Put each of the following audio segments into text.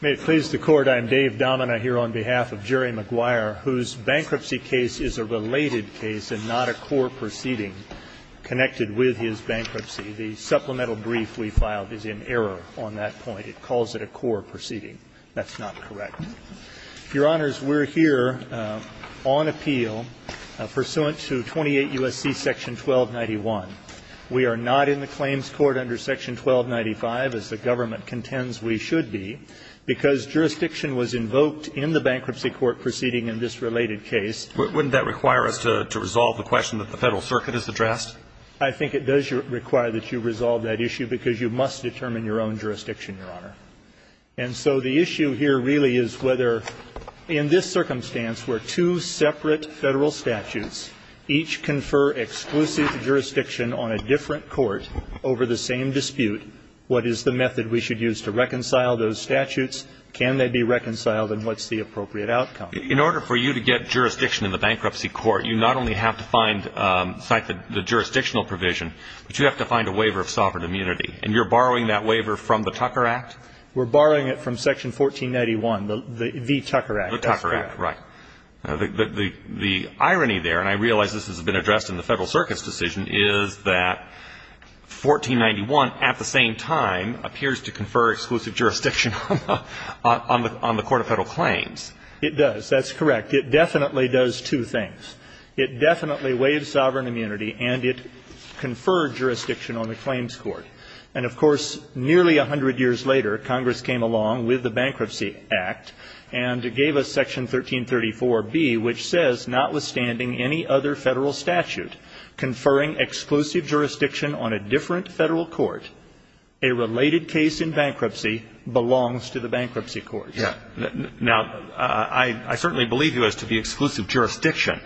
May it please the Court, I am Dave Domina here on behalf of Jerry Maguire, whose bankruptcy case is a related case and not a core proceeding connected with his bankruptcy. The supplemental brief we filed is in error on that point. It calls it a core proceeding. That's not correct. Your Honors, we're here on appeal pursuant to 28 U.S.C. section 1291. We are not in the claims court under section 1295, as the government contends we should be, because jurisdiction was invoked in the bankruptcy court proceeding in this related case. Wouldn't that require us to resolve the question that the Federal Circuit has addressed? I think it does require that you resolve that issue because you must determine your own jurisdiction, Your Honor. And so the issue here really is whether, in this circumstance where two separate Federal statutes each confer exclusive jurisdiction on a different court over the same dispute, what is the method we should use to reconcile those statutes? Can they be reconciled and what's the appropriate outcome? In order for you to get jurisdiction in the bankruptcy court, you not only have to find the jurisdictional provision, but you have to find a waiver of sovereign immunity. And you're borrowing that waiver from the Tucker Act? We're borrowing it from section 1491, the Tucker Act. The Tucker Act, right. The irony there, and I realize this has been addressed in the Federal Circuit's decision, is that 1491 at the same time appears to confer exclusive jurisdiction on the court of Federal claims. It does. That's correct. It definitely does two things. It definitely waived sovereign immunity and it conferred jurisdiction on the claims court. And, of course, nearly 100 years later, Congress came along with the Bankruptcy Act and gave us section 1334B, which says, notwithstanding any other Federal statute conferring exclusive jurisdiction on a different Federal court, a related case in bankruptcy belongs to the bankruptcy court. Now, I certainly believe you as to the exclusive jurisdiction,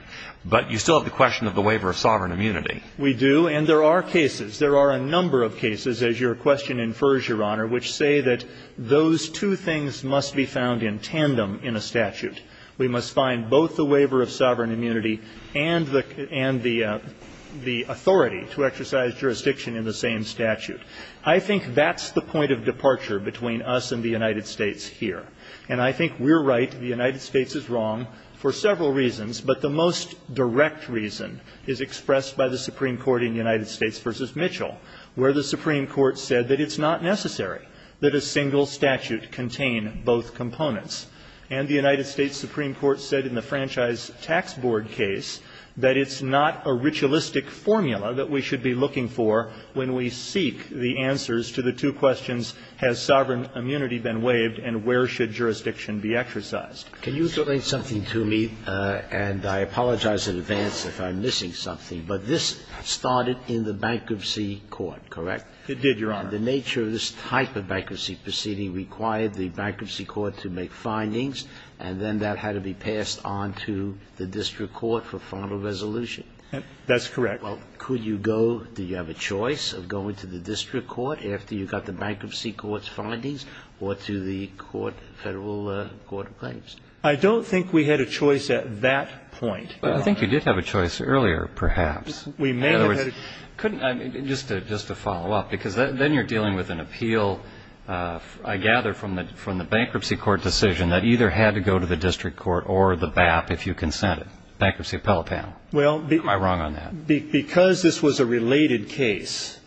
but you still have the question of the waiver of sovereign immunity. We do, and there are cases. There are a number of cases, as your question infers, Your Honor, which say that those two things must be found in tandem in a statute. We must find both the waiver of sovereign immunity and the authority to exercise jurisdiction in the same statute. I think that's the point of departure between us and the United States here. And I think we're right, the United States is wrong, for several reasons, but the most direct reason is expressed by the Supreme Court in United States v. Mitchell, where the Supreme Court said that it's not necessary that a single statute contain both components. And the United States Supreme Court said in the Franchise Tax Board case that it's not a ritualistic formula that we should be looking for when we seek the answers to the two questions, has sovereign immunity been waived and where should jurisdiction be exercised? Can you explain something to me, and I apologize in advance if I'm missing something. But this started in the bankruptcy court, correct? It did, Your Honor. The nature of this type of bankruptcy proceeding required the bankruptcy court to make findings, and then that had to be passed on to the district court for final resolution. That's correct. Well, could you go, do you have a choice of going to the district court after you got the bankruptcy court's findings or to the court, Federal Court of Claims? I don't think we had a choice at that point, Your Honor. I think you did have a choice earlier, perhaps. We may have had a choice. In other words, couldn't I, just to follow up, because then you're dealing with an appeal, I gather, from the bankruptcy court decision that either had to go to the district court or the BAP if you consented, Bankruptcy Appellate Panel. Am I wrong on that? Because this was a related case,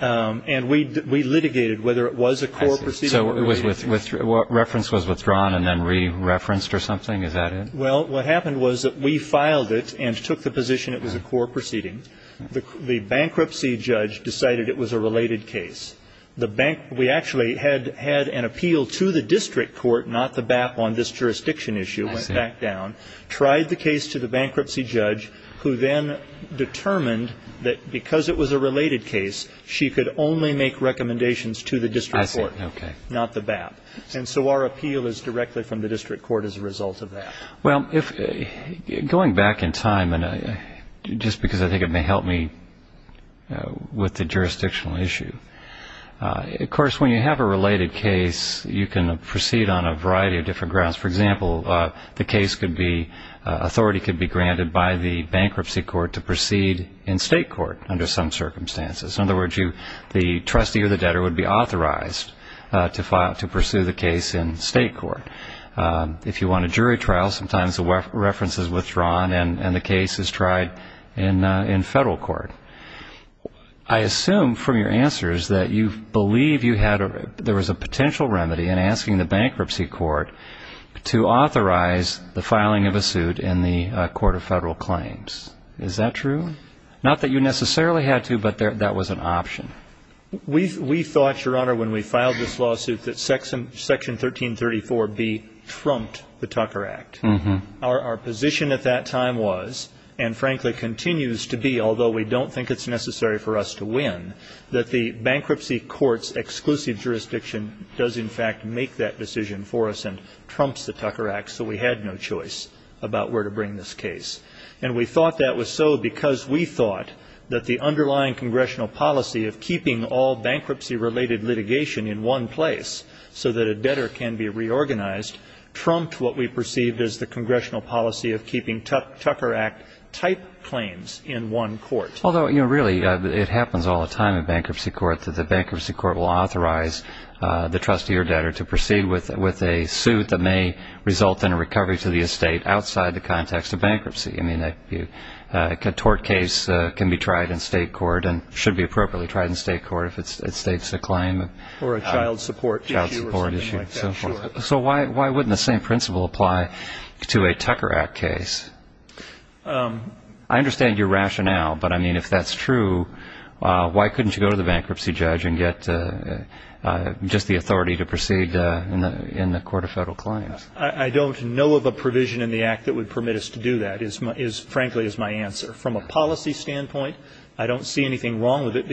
and we litigated whether it was a core proceeding or a related case. So reference was withdrawn and then re-referenced or something? Is that it? Well, what happened was that we filed it and took the position it was a core proceeding. The bankruptcy judge decided it was a related case. We actually had an appeal to the district court, not the BAP on this jurisdiction issue, went back down, tried the case to the bankruptcy judge, who then determined that because it was a related case, she could only make recommendations to the district court, not the BAP. And so our appeal is directly from the district court as a result of that. Well, going back in time, and just because I think it may help me with the jurisdictional issue, of course, when you have a related case, you can proceed on a variety of different grounds. For example, the authority could be granted by the bankruptcy court to proceed in state court under some circumstances. In other words, the trustee or the debtor would be authorized to pursue the case in state court. If you want a jury trial, sometimes the reference is withdrawn and the case is tried in federal court. I assume from your answers that you believe there was a potential remedy in asking the bankruptcy court to authorize the filing of a suit in the Court of Federal Claims. Is that true? Not that you necessarily had to, but that was an option. We thought, Your Honor, when we filed this lawsuit, that Section 1334B trumped the Tucker Act. Our position at that time was, and frankly continues to be, although we don't think it's necessary for us to win, that the bankruptcy court's exclusive jurisdiction does in fact make that decision for us and trumps the Tucker Act, so we had no choice about where to bring this case. And we thought that was so because we thought that the underlying congressional policy of keeping all bankruptcy-related litigation in one place so that a debtor can be reorganized trumped what we perceived as the congressional policy of keeping Tucker Act-type claims in one court. Although, really, it happens all the time in bankruptcy court that the bankruptcy court will authorize the trustee or debtor to proceed with a suit that may result in a recovery to the estate outside the context of bankruptcy. I mean, a tort case can be tried in state court and should be appropriately tried in state court if it states a claim. Or a child support issue or something like that, sure. So why wouldn't the same principle apply to a Tucker Act case? I understand your rationale, but, I mean, if that's true, why couldn't you go to the bankruptcy judge and get just the authority to proceed in the court of federal claims? I don't know of a provision in the Act that would permit us to do that, frankly, is my answer. From a policy standpoint, I don't see anything wrong with it,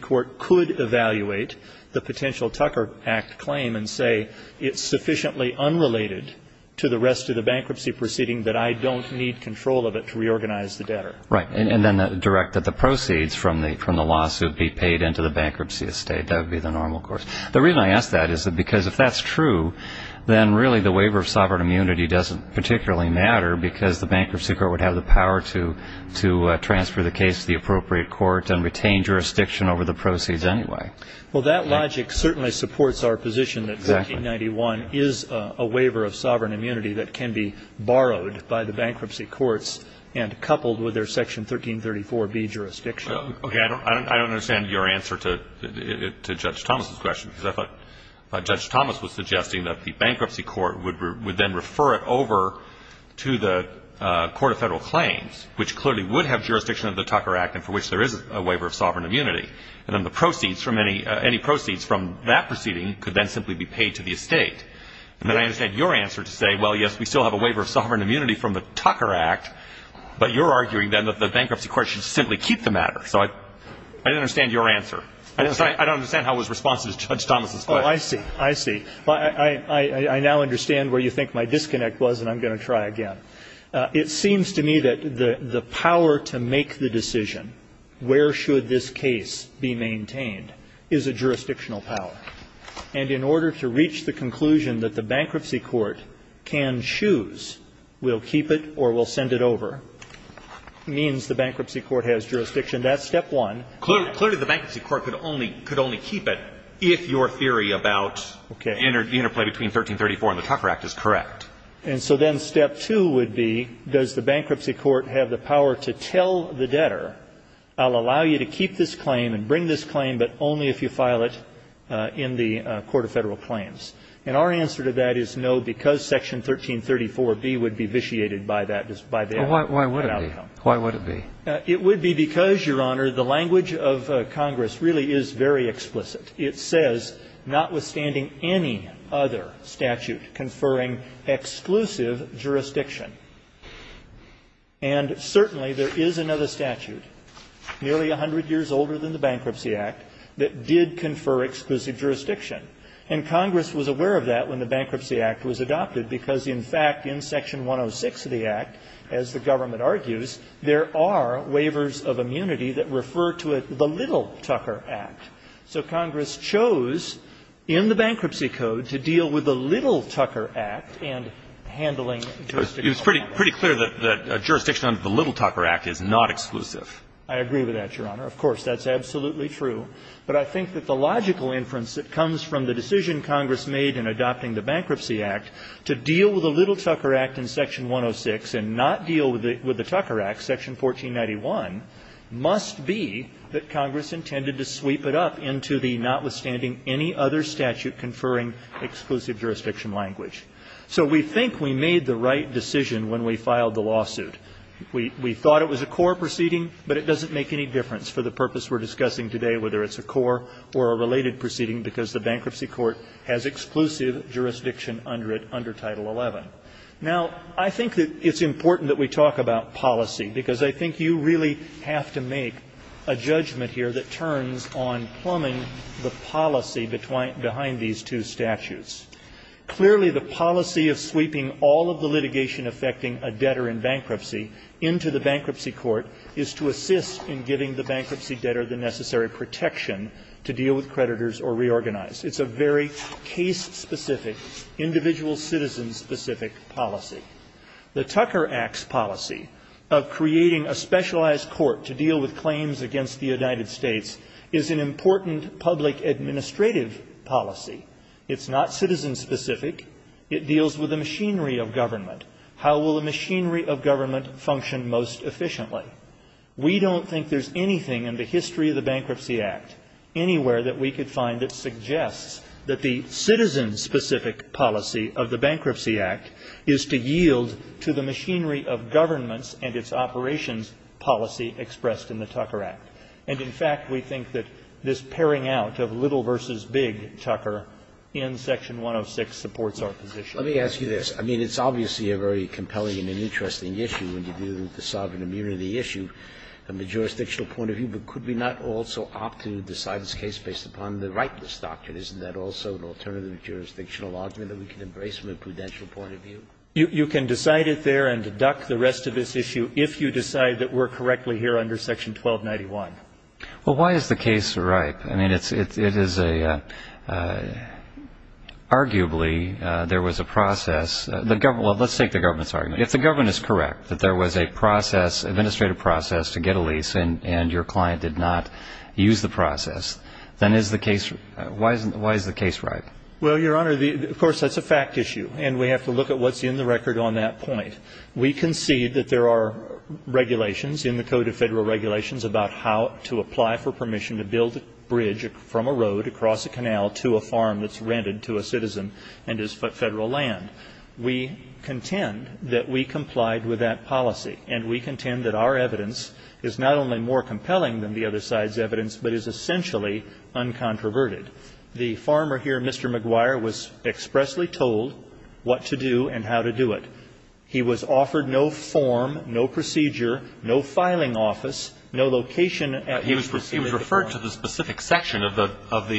could evaluate the potential Tucker Act claim and say it's sufficiently unrelated to the rest of the bankruptcy proceeding that I don't need control of it to reorganize the debtor. Right, and then direct that the proceeds from the lawsuit be paid into the bankruptcy estate. That would be the normal course. The reason I ask that is because if that's true, then really the waiver of sovereign immunity doesn't particularly matter because the bankruptcy court would have the power to transfer the case to the appropriate court and retain jurisdiction over the proceeds anyway. Well, that logic certainly supports our position that 1591 is a waiver of sovereign immunity that can be borrowed by the bankruptcy courts and coupled with their Section 1334B jurisdiction. Okay. I don't understand your answer to Judge Thomas's question, because I thought Judge Thomas was suggesting that the bankruptcy court would then refer it over to the Court of Federal Claims, which clearly would have jurisdiction of the Tucker Act and for which there is a waiver of sovereign immunity. And then the proceeds from any – any proceeds from that proceeding could then simply be paid to the estate. And then I understand your answer to say, well, yes, we still have a waiver of sovereign immunity from the Tucker Act, but you're arguing then that the bankruptcy court should simply keep the matter. So I don't understand your answer. I don't understand how it was responsive to Judge Thomas's question. Well, I see. I see. I now understand where you think my disconnect was, and I'm going to try again. It seems to me that the power to make the decision where should this case be maintained is a jurisdictional power. And in order to reach the conclusion that the bankruptcy court can choose, we'll keep it or we'll send it over, means the bankruptcy court has jurisdiction. That's step one. Clearly the bankruptcy court could only keep it if your theory about the interplay between 1334 and the Tucker Act is correct. And so then step two would be, does the bankruptcy court have the power to tell the debtor, I'll allow you to keep this claim and bring this claim, but only if you file it in the Court of Federal Claims. And our answer to that is no, because Section 1334B would be vitiated by that outcome. Why would it be? Why would it be? It would be because, Your Honor, the language of Congress really is very explicit. It says, notwithstanding any other statute conferring exclusive jurisdiction. And certainly there is another statute nearly 100 years older than the Bankruptcy Act that did confer exclusive jurisdiction. And Congress was aware of that when the Bankruptcy Act was adopted because, in fact, in Section 106 of the Act, as the government argues, there are waivers of immunity that refer to it the Little Tucker Act. So Congress chose in the Bankruptcy Code to deal with the Little Tucker Act and handling jurisdictional matters. It's pretty clear that jurisdiction under the Little Tucker Act is not exclusive. I agree with that, Your Honor. Of course, that's absolutely true. But I think that the logical inference that comes from the decision Congress made in adopting the Bankruptcy Act to deal with the Little Tucker Act in Section 106 and not deal with the Tucker Act, Section 1491, must be that Congress intended to sweep it up into the notwithstanding any other statute conferring exclusive jurisdiction language. So we think we made the right decision when we filed the lawsuit. We thought it was a core proceeding, but it doesn't make any difference for the purpose we're discussing today, whether it's a core or a related proceeding, because the Bankruptcy Act has exclusive jurisdiction under it, under Title XI. Now, I think that it's important that we talk about policy, because I think you really have to make a judgment here that turns on plumbing the policy behind these two statutes. Clearly, the policy of sweeping all of the litigation affecting a debtor in bankruptcy into the bankruptcy court is to assist in giving the bankruptcy debtor the necessary protection to deal with creditors or reorganize. It's a very case-specific, individual citizen-specific policy. The Tucker Act's policy of creating a specialized court to deal with claims against the United States is an important public administrative policy. It's not citizen-specific. It deals with the machinery of government. How will the machinery of government function most efficiently? We don't think there's anything in the history of the Bankruptcy Act anywhere that we could find that suggests that the citizen-specific policy of the Bankruptcy Act is to yield to the machinery of governments and its operations policy expressed in the Tucker Act. And, in fact, we think that this pairing out of little versus big, Tucker, in Section 106 supports our position. Let me ask you this. I mean, it's obviously a very compelling and an interesting issue when you do the sovereign immunity issue from the jurisdictional point of view, but could we not also opt to decide this case based upon the rightness doctrine? Isn't that also an alternative jurisdictional argument that we can embrace from a prudential point of view? You can decide it there and deduct the rest of this issue if you decide that we're correctly here under Section 1291. Well, why is the case ripe? I mean, it is a – arguably, there was a process – well, let's take the government's argument. If the government is correct that there was a process, administrative process, to get Then is the case – why is the case ripe? Well, Your Honor, of course, that's a fact issue, and we have to look at what's in the record on that point. We concede that there are regulations in the Code of Federal Regulations about how to apply for permission to build a bridge from a road across a canal to a farm that's rented to a citizen and is Federal land. We contend that we complied with that policy, and we contend that our evidence is not only more compelling than the other side's evidence but is essentially uncontroverted. The farmer here, Mr. McGuire, was expressly told what to do and how to do it. He was offered no form, no procedure, no filing office, no location at which to see He was referred to the specific section of the – of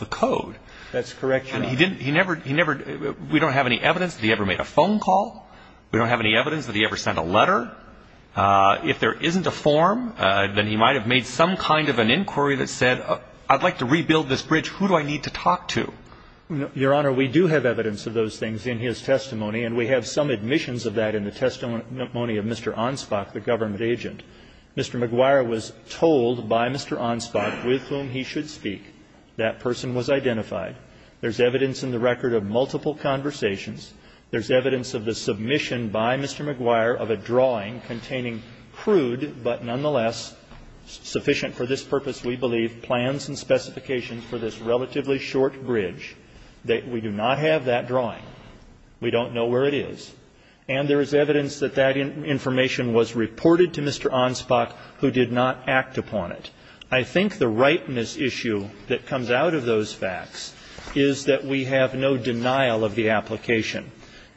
the Code. That's correct, Your Honor. And he didn't – he never – we don't have any evidence that he ever made a phone call. We don't have any evidence that he ever sent a letter. If there isn't a form, then he might have made some kind of an inquiry that said, I'd like to rebuild this bridge. Who do I need to talk to? Your Honor, we do have evidence of those things in his testimony, and we have some admissions of that in the testimony of Mr. Onspach, the government agent. Mr. McGuire was told by Mr. Onspach with whom he should speak. That person was identified. There's evidence in the record of multiple conversations. There's evidence of the submission by Mr. McGuire of a drawing containing crude, but nonetheless sufficient for this purpose, we believe, plans and specifications for this relatively short bridge. We do not have that drawing. We don't know where it is. And there is evidence that that information was reported to Mr. Onspach, who did not act upon it. I think the rightness issue that comes out of those facts is that we have no denial of the application.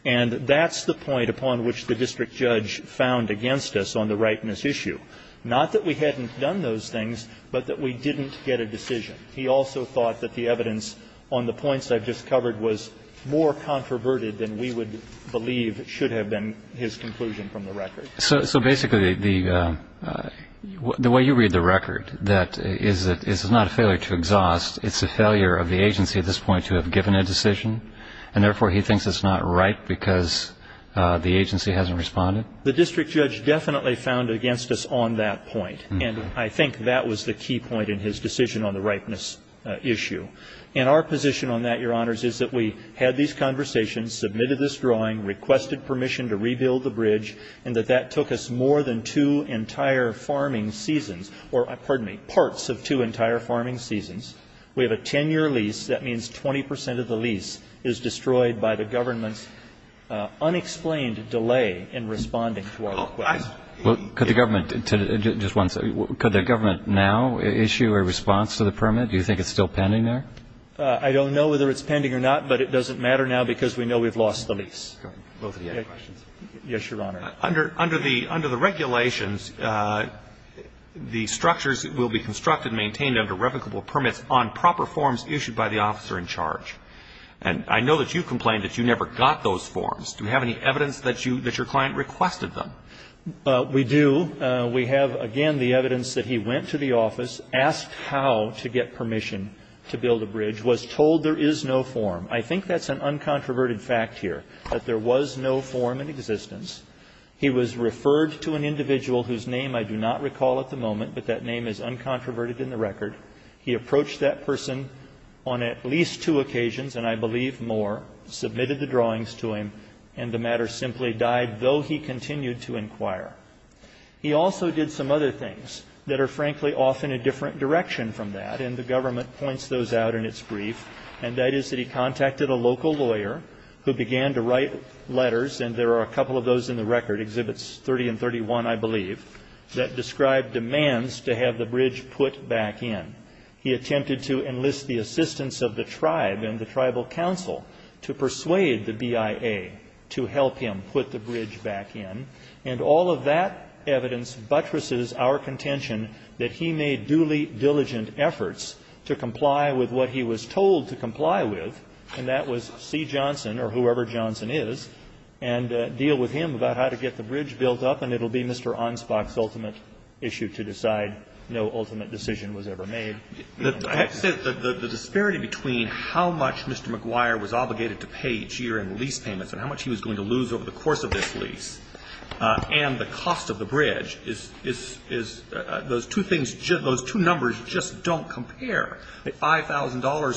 And that's the point upon which the district judge found against us on the rightness issue. Not that we hadn't done those things, but that we didn't get a decision. He also thought that the evidence on the points I've just covered was more controverted than we would believe should have been his conclusion from the record. So basically, the way you read the record, that it's not a failure to exhaust, it's a failure of the agency at this point to have given a decision, and therefore he thinks it's not right because the agency hasn't responded? The district judge definitely found against us on that point. And I think that was the key point in his decision on the rightness issue. And our position on that, Your Honors, is that we had these conversations, submitted this drawing, requested permission to rebuild the bridge, and that that took us more than two entire farming seasons, or pardon me, parts of two entire farming seasons. We have a 10-year lease. That means 20 percent of the lease is destroyed by the government's unexplained delay in responding to our request. Well, could the government, just one second, could the government now issue a response to the permit? Do you think it's still pending there? I don't know whether it's pending or not, but it doesn't matter now because we know we've lost the lease. Both of the other questions. Yes, Your Honor. Under the regulations, the structures will be constructed and maintained under replicable permits on proper forms issued by the officer in charge. And I know that you complained that you never got those forms. Do you have any evidence that your client requested them? We do. We have, again, the evidence that he went to the office, asked how to get permission to build a bridge, was told there is no form. I think that's an uncontroverted fact here, that there was no form in existence. He was referred to an individual whose name I do not recall at the moment, but that name is uncontroverted in the record. He approached that person on at least two occasions, and I believe more, submitted the drawings to him, and the matter simply died, though he continued to inquire. He also did some other things that are, frankly, often a different direction from that, and the government points those out in its brief. And that is that he contacted a local lawyer who began to write letters, and there are a couple of those in the record, Exhibits 30 and 31, I believe, that described demands to have the bridge put back in. He attempted to enlist the assistance of the tribe and the tribal council to persuade the BIA to help him put the bridge back in. And all of that evidence buttresses our contention that he made duly diligent efforts to comply with what he was told to comply with, and that was see Johnson or whoever Johnson is, and deal with him about how to get the bridge built up, and it will be Mr. Anspach's ultimate issue to decide. No ultimate decision was ever made. I have to say, the disparity between how much Mr. McGuire was obligated to pay each year in lease payments and how much he was going to lose over the course of this $5,000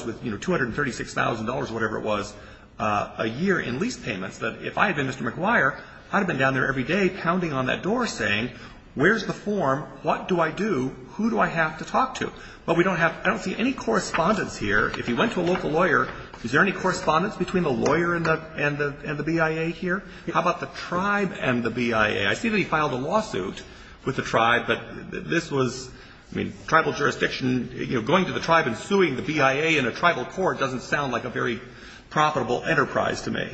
with $236,000, whatever it was, a year in lease payments, that if I had been Mr. McGuire, I would have been down there every day pounding on that door saying, where's the form, what do I do, who do I have to talk to? But we don't have any correspondence here. If you went to a local lawyer, is there any correspondence between the lawyer and the BIA here? How about the tribe and the BIA? I see that he filed a lawsuit with the tribe, but this was, I mean, tribal jurisdiction, you know, going to the tribe and suing the BIA in a tribal court doesn't sound like a very profitable enterprise to me.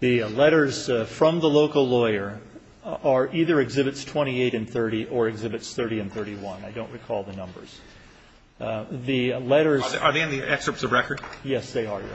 The letters from the local lawyer are either Exhibits 28 and 30 or Exhibits 30 and 31. I don't recall the numbers. The letters are in the excerpts of record? Yes, they are, Your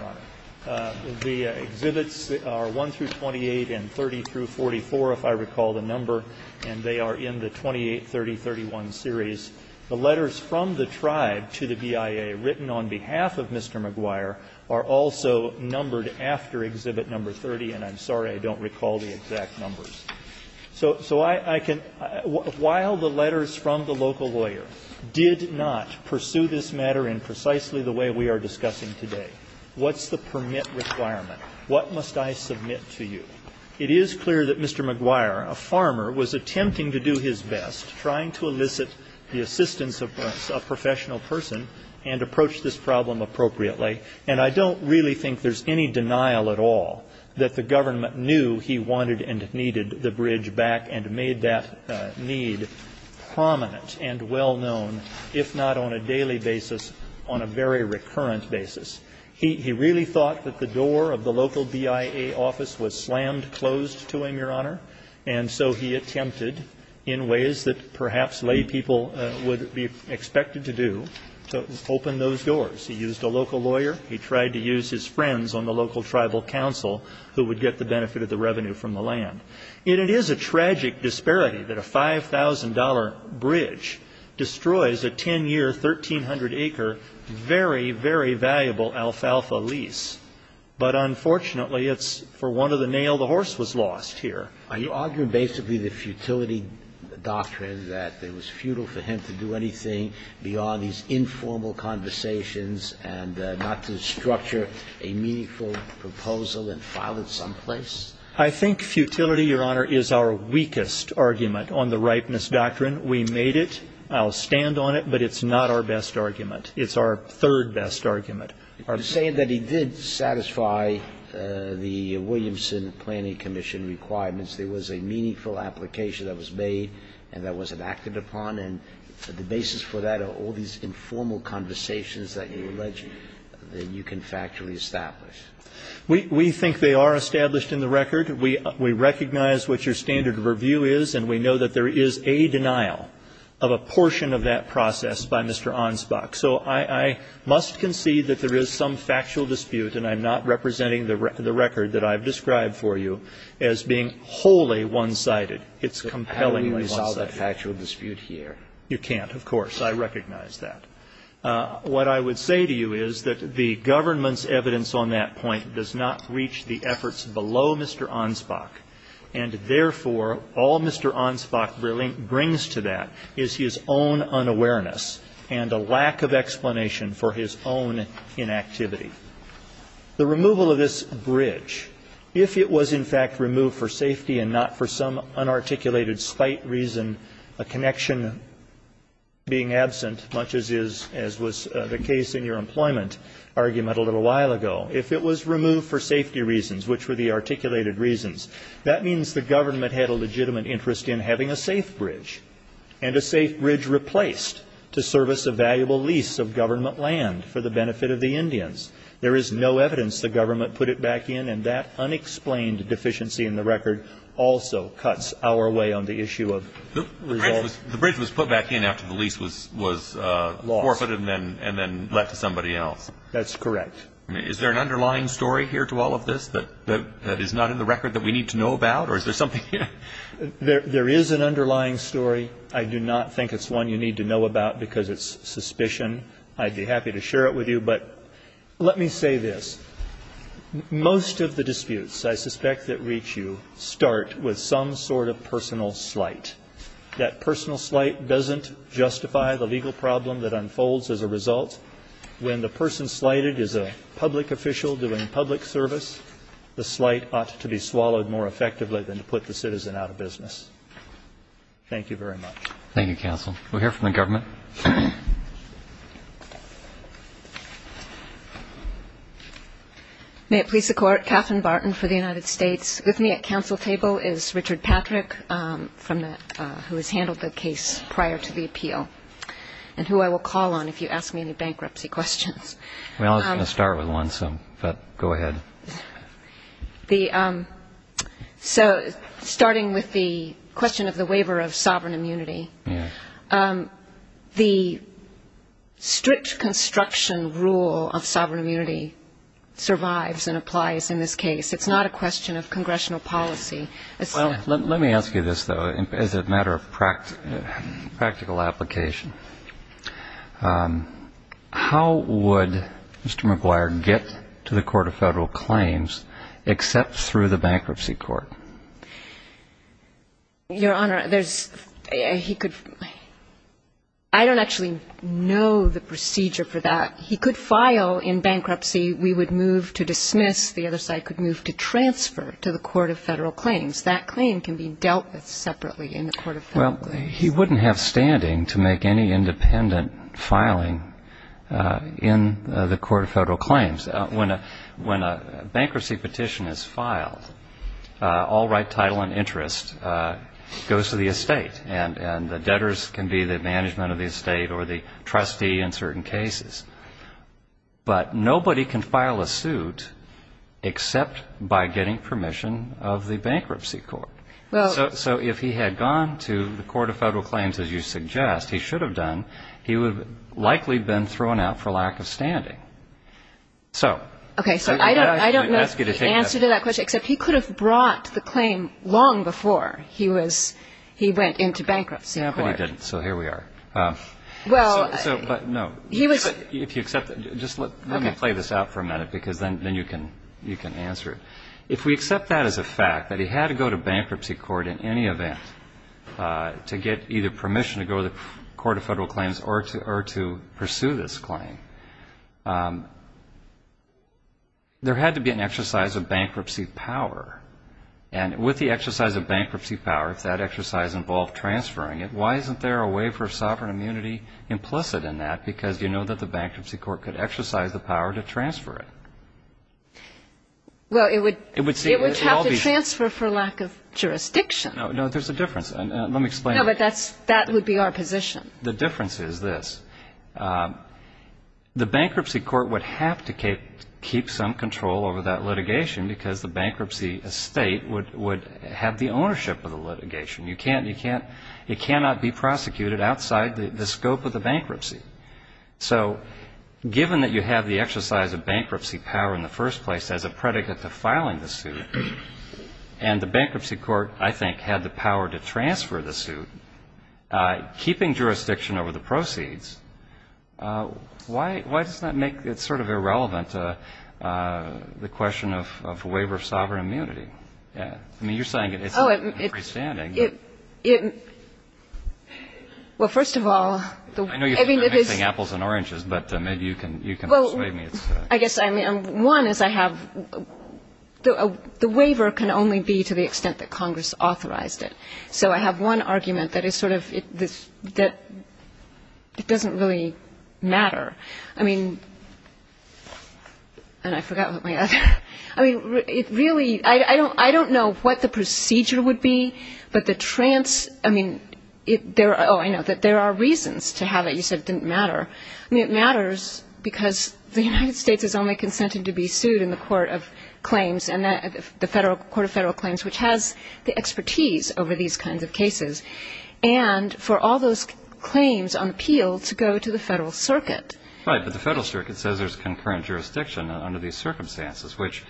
Honor. The exhibits are 1 through 28 and 30 through 44, if I recall the number, and they are in the 28, 30, 31 series. The letters from the tribe to the BIA written on behalf of Mr. McGuire are also numbered after Exhibit No. 30, and I'm sorry I don't recall the exact numbers. So I can, while the letters from the local lawyer did not pursue this matter in precisely the way we are discussing today, what's the permit requirement? What must I submit to you? It is clear that Mr. McGuire, a farmer, was attempting to do his best, trying to elicit the assistance of a professional person and approach this problem appropriately. And I don't really think there's any denial at all that the government knew he wanted and needed the bridge back and made that need prominent and well-known, if not on a daily basis, on a very recurrent basis. He really thought that the door of the local BIA office was slammed closed to him, Your ways that perhaps lay people would be expected to do to open those doors. He used a local lawyer. He tried to use his friends on the local tribal council who would get the benefit of the revenue from the land. And it is a tragic disparity that a $5,000 bridge destroys a 10-year, 1,300-acre, very, very valuable alfalfa lease. But unfortunately, it's for one of the nail the horse was lost here. Are you arguing basically the futility doctrine, that it was futile for him to do anything beyond these informal conversations and not to structure a meaningful proposal and file it someplace? I think futility, Your Honor, is our weakest argument on the ripeness doctrine. We made it. I'll stand on it. But it's not our best argument. It's our third best argument. Are you saying that he did satisfy the Williamson Planning Commission requirements? There was a meaningful application that was made and that wasn't acted upon. And the basis for that are all these informal conversations that you allege that you can factually establish. We think they are established in the record. We recognize what your standard of review is, and we know that there is a denial of a portion of that process by Mr. Ansbach. So I must concede that there is some factual dispute, and I'm not representing the record that I've described for you, as being wholly one-sided. It's compellingly one-sided. How do we resolve that factual dispute here? You can't, of course. I recognize that. What I would say to you is that the government's evidence on that point does not reach the efforts below Mr. Ansbach. And therefore, all Mr. Ansbach brings to that is his own unawareness and a lack of explanation for his own inactivity. The removal of this bridge, if it was, in fact, removed for safety and not for some unarticulated spite reason, a connection being absent, much as was the case in your employment argument a little while ago, if it was removed for safety reasons, which were the articulated reasons, that means the government had a legitimate interest in having a safe bridge, and a safe bridge replaced to service a valuable lease of government land for the benefit of the Indians. There is no evidence the government put it back in, and that unexplained deficiency in the record also cuts our way on the issue of resolve. The bridge was put back in after the lease was forfeited and then left to somebody else. That's correct. Is there an underlying story here to all of this that is not in the record that we need to know about, or is there something here? There is an underlying story. I do not think it's one you need to know about because it's suspicion. I'd be happy to share it with you, but let me say this. Most of the disputes I suspect that reach you start with some sort of personal slight. That personal slight doesn't justify the legal problem that unfolds as a result. When the person slighted is a public official doing public service, the slight ought to be swallowed more effectively than to put the citizen out of business. Thank you very much. Thank you, counsel. We'll hear from the government. May it please the Court. Katherine Barton for the United States. With me at counsel table is Richard Patrick, who has handled the case prior to the appeal, and who I will call on if you ask me any bankruptcy questions. I was going to start with one, but go ahead. Starting with the question of the waiver of sovereign immunity, the strict construction rule of sovereign immunity survives and applies in this case. It's not a question of congressional policy. Let me ask you this, though, as a matter of practical application. How would Mr. Maguire get to the Court of Federal Claims except through the bankruptcy court? Your Honor, there's he could I don't actually know the procedure for that. He could file in bankruptcy. We would move to dismiss. The other side could move to transfer to the Court of Federal Claims. That claim can be dealt with separately in the Court of Federal Claims. Well, he wouldn't have standing to make any independent filing in the Court of Federal Claims. When a bankruptcy petition is filed, all right, title and interest goes to the estate, and the debtors can be the management of the estate or the trustee in certain cases. But nobody can file a suit except by getting permission of the bankruptcy court. So if he had gone to the Court of Federal Claims, as you suggest, he should have done, he would have likely been thrown out for lack of standing. Okay. So I don't know the answer to that question, except he could have brought the claim long before he went into bankruptcy court. Yeah, but he didn't. So here we are. Well, he was. If you accept that. Just let me play this out for a minute because then you can answer it. If we accept that as a fact, that he had to go to bankruptcy court in any event to get either permission to go to the Court of Federal Claims or to pursue this claim, there had to be an exercise of bankruptcy power. And with the exercise of bankruptcy power, if that exercise involved transferring it, why isn't there a waiver of sovereign immunity implicit in that? Because you know that the bankruptcy court could exercise the power to transfer it. Well, it would have to transfer for lack of jurisdiction. No, there's a difference. Let me explain. No, but that would be our position. The difference is this. The bankruptcy court would have to keep some control over that litigation because the bankruptcy estate would have the ownership of the litigation. You can't, it cannot be prosecuted outside the scope of the bankruptcy. So given that you have the exercise of bankruptcy power in the first place as a predicate to filing the suit and the bankruptcy court, I think, had the power to transfer the suit, keeping jurisdiction over the proceeds, why does that make it sort of irrelevant to the question of waiver of sovereign immunity? I mean, you're saying it's not freestanding. Well, first of all, I mean, it is. I know you're mixing apples and oranges, but maybe you can persuade me. Well, I guess one is I have, the waiver can only be to the extent that Congress authorized it. So I have one argument that is sort of, it doesn't really matter. I mean, and I forgot what my other. I mean, it really, I don't know what the procedure would be, but the trans, I mean, oh, I know, that there are reasons to have it. You said it didn't matter. I mean, it matters because the United States has only consented to be sued in the Court of Claims, the Court of Federal Claims, which has the expertise over these kinds of cases, and for all those claims on appeal to go to the federal circuit. Right, but the federal circuit says there's concurrent jurisdiction under these circumstances, which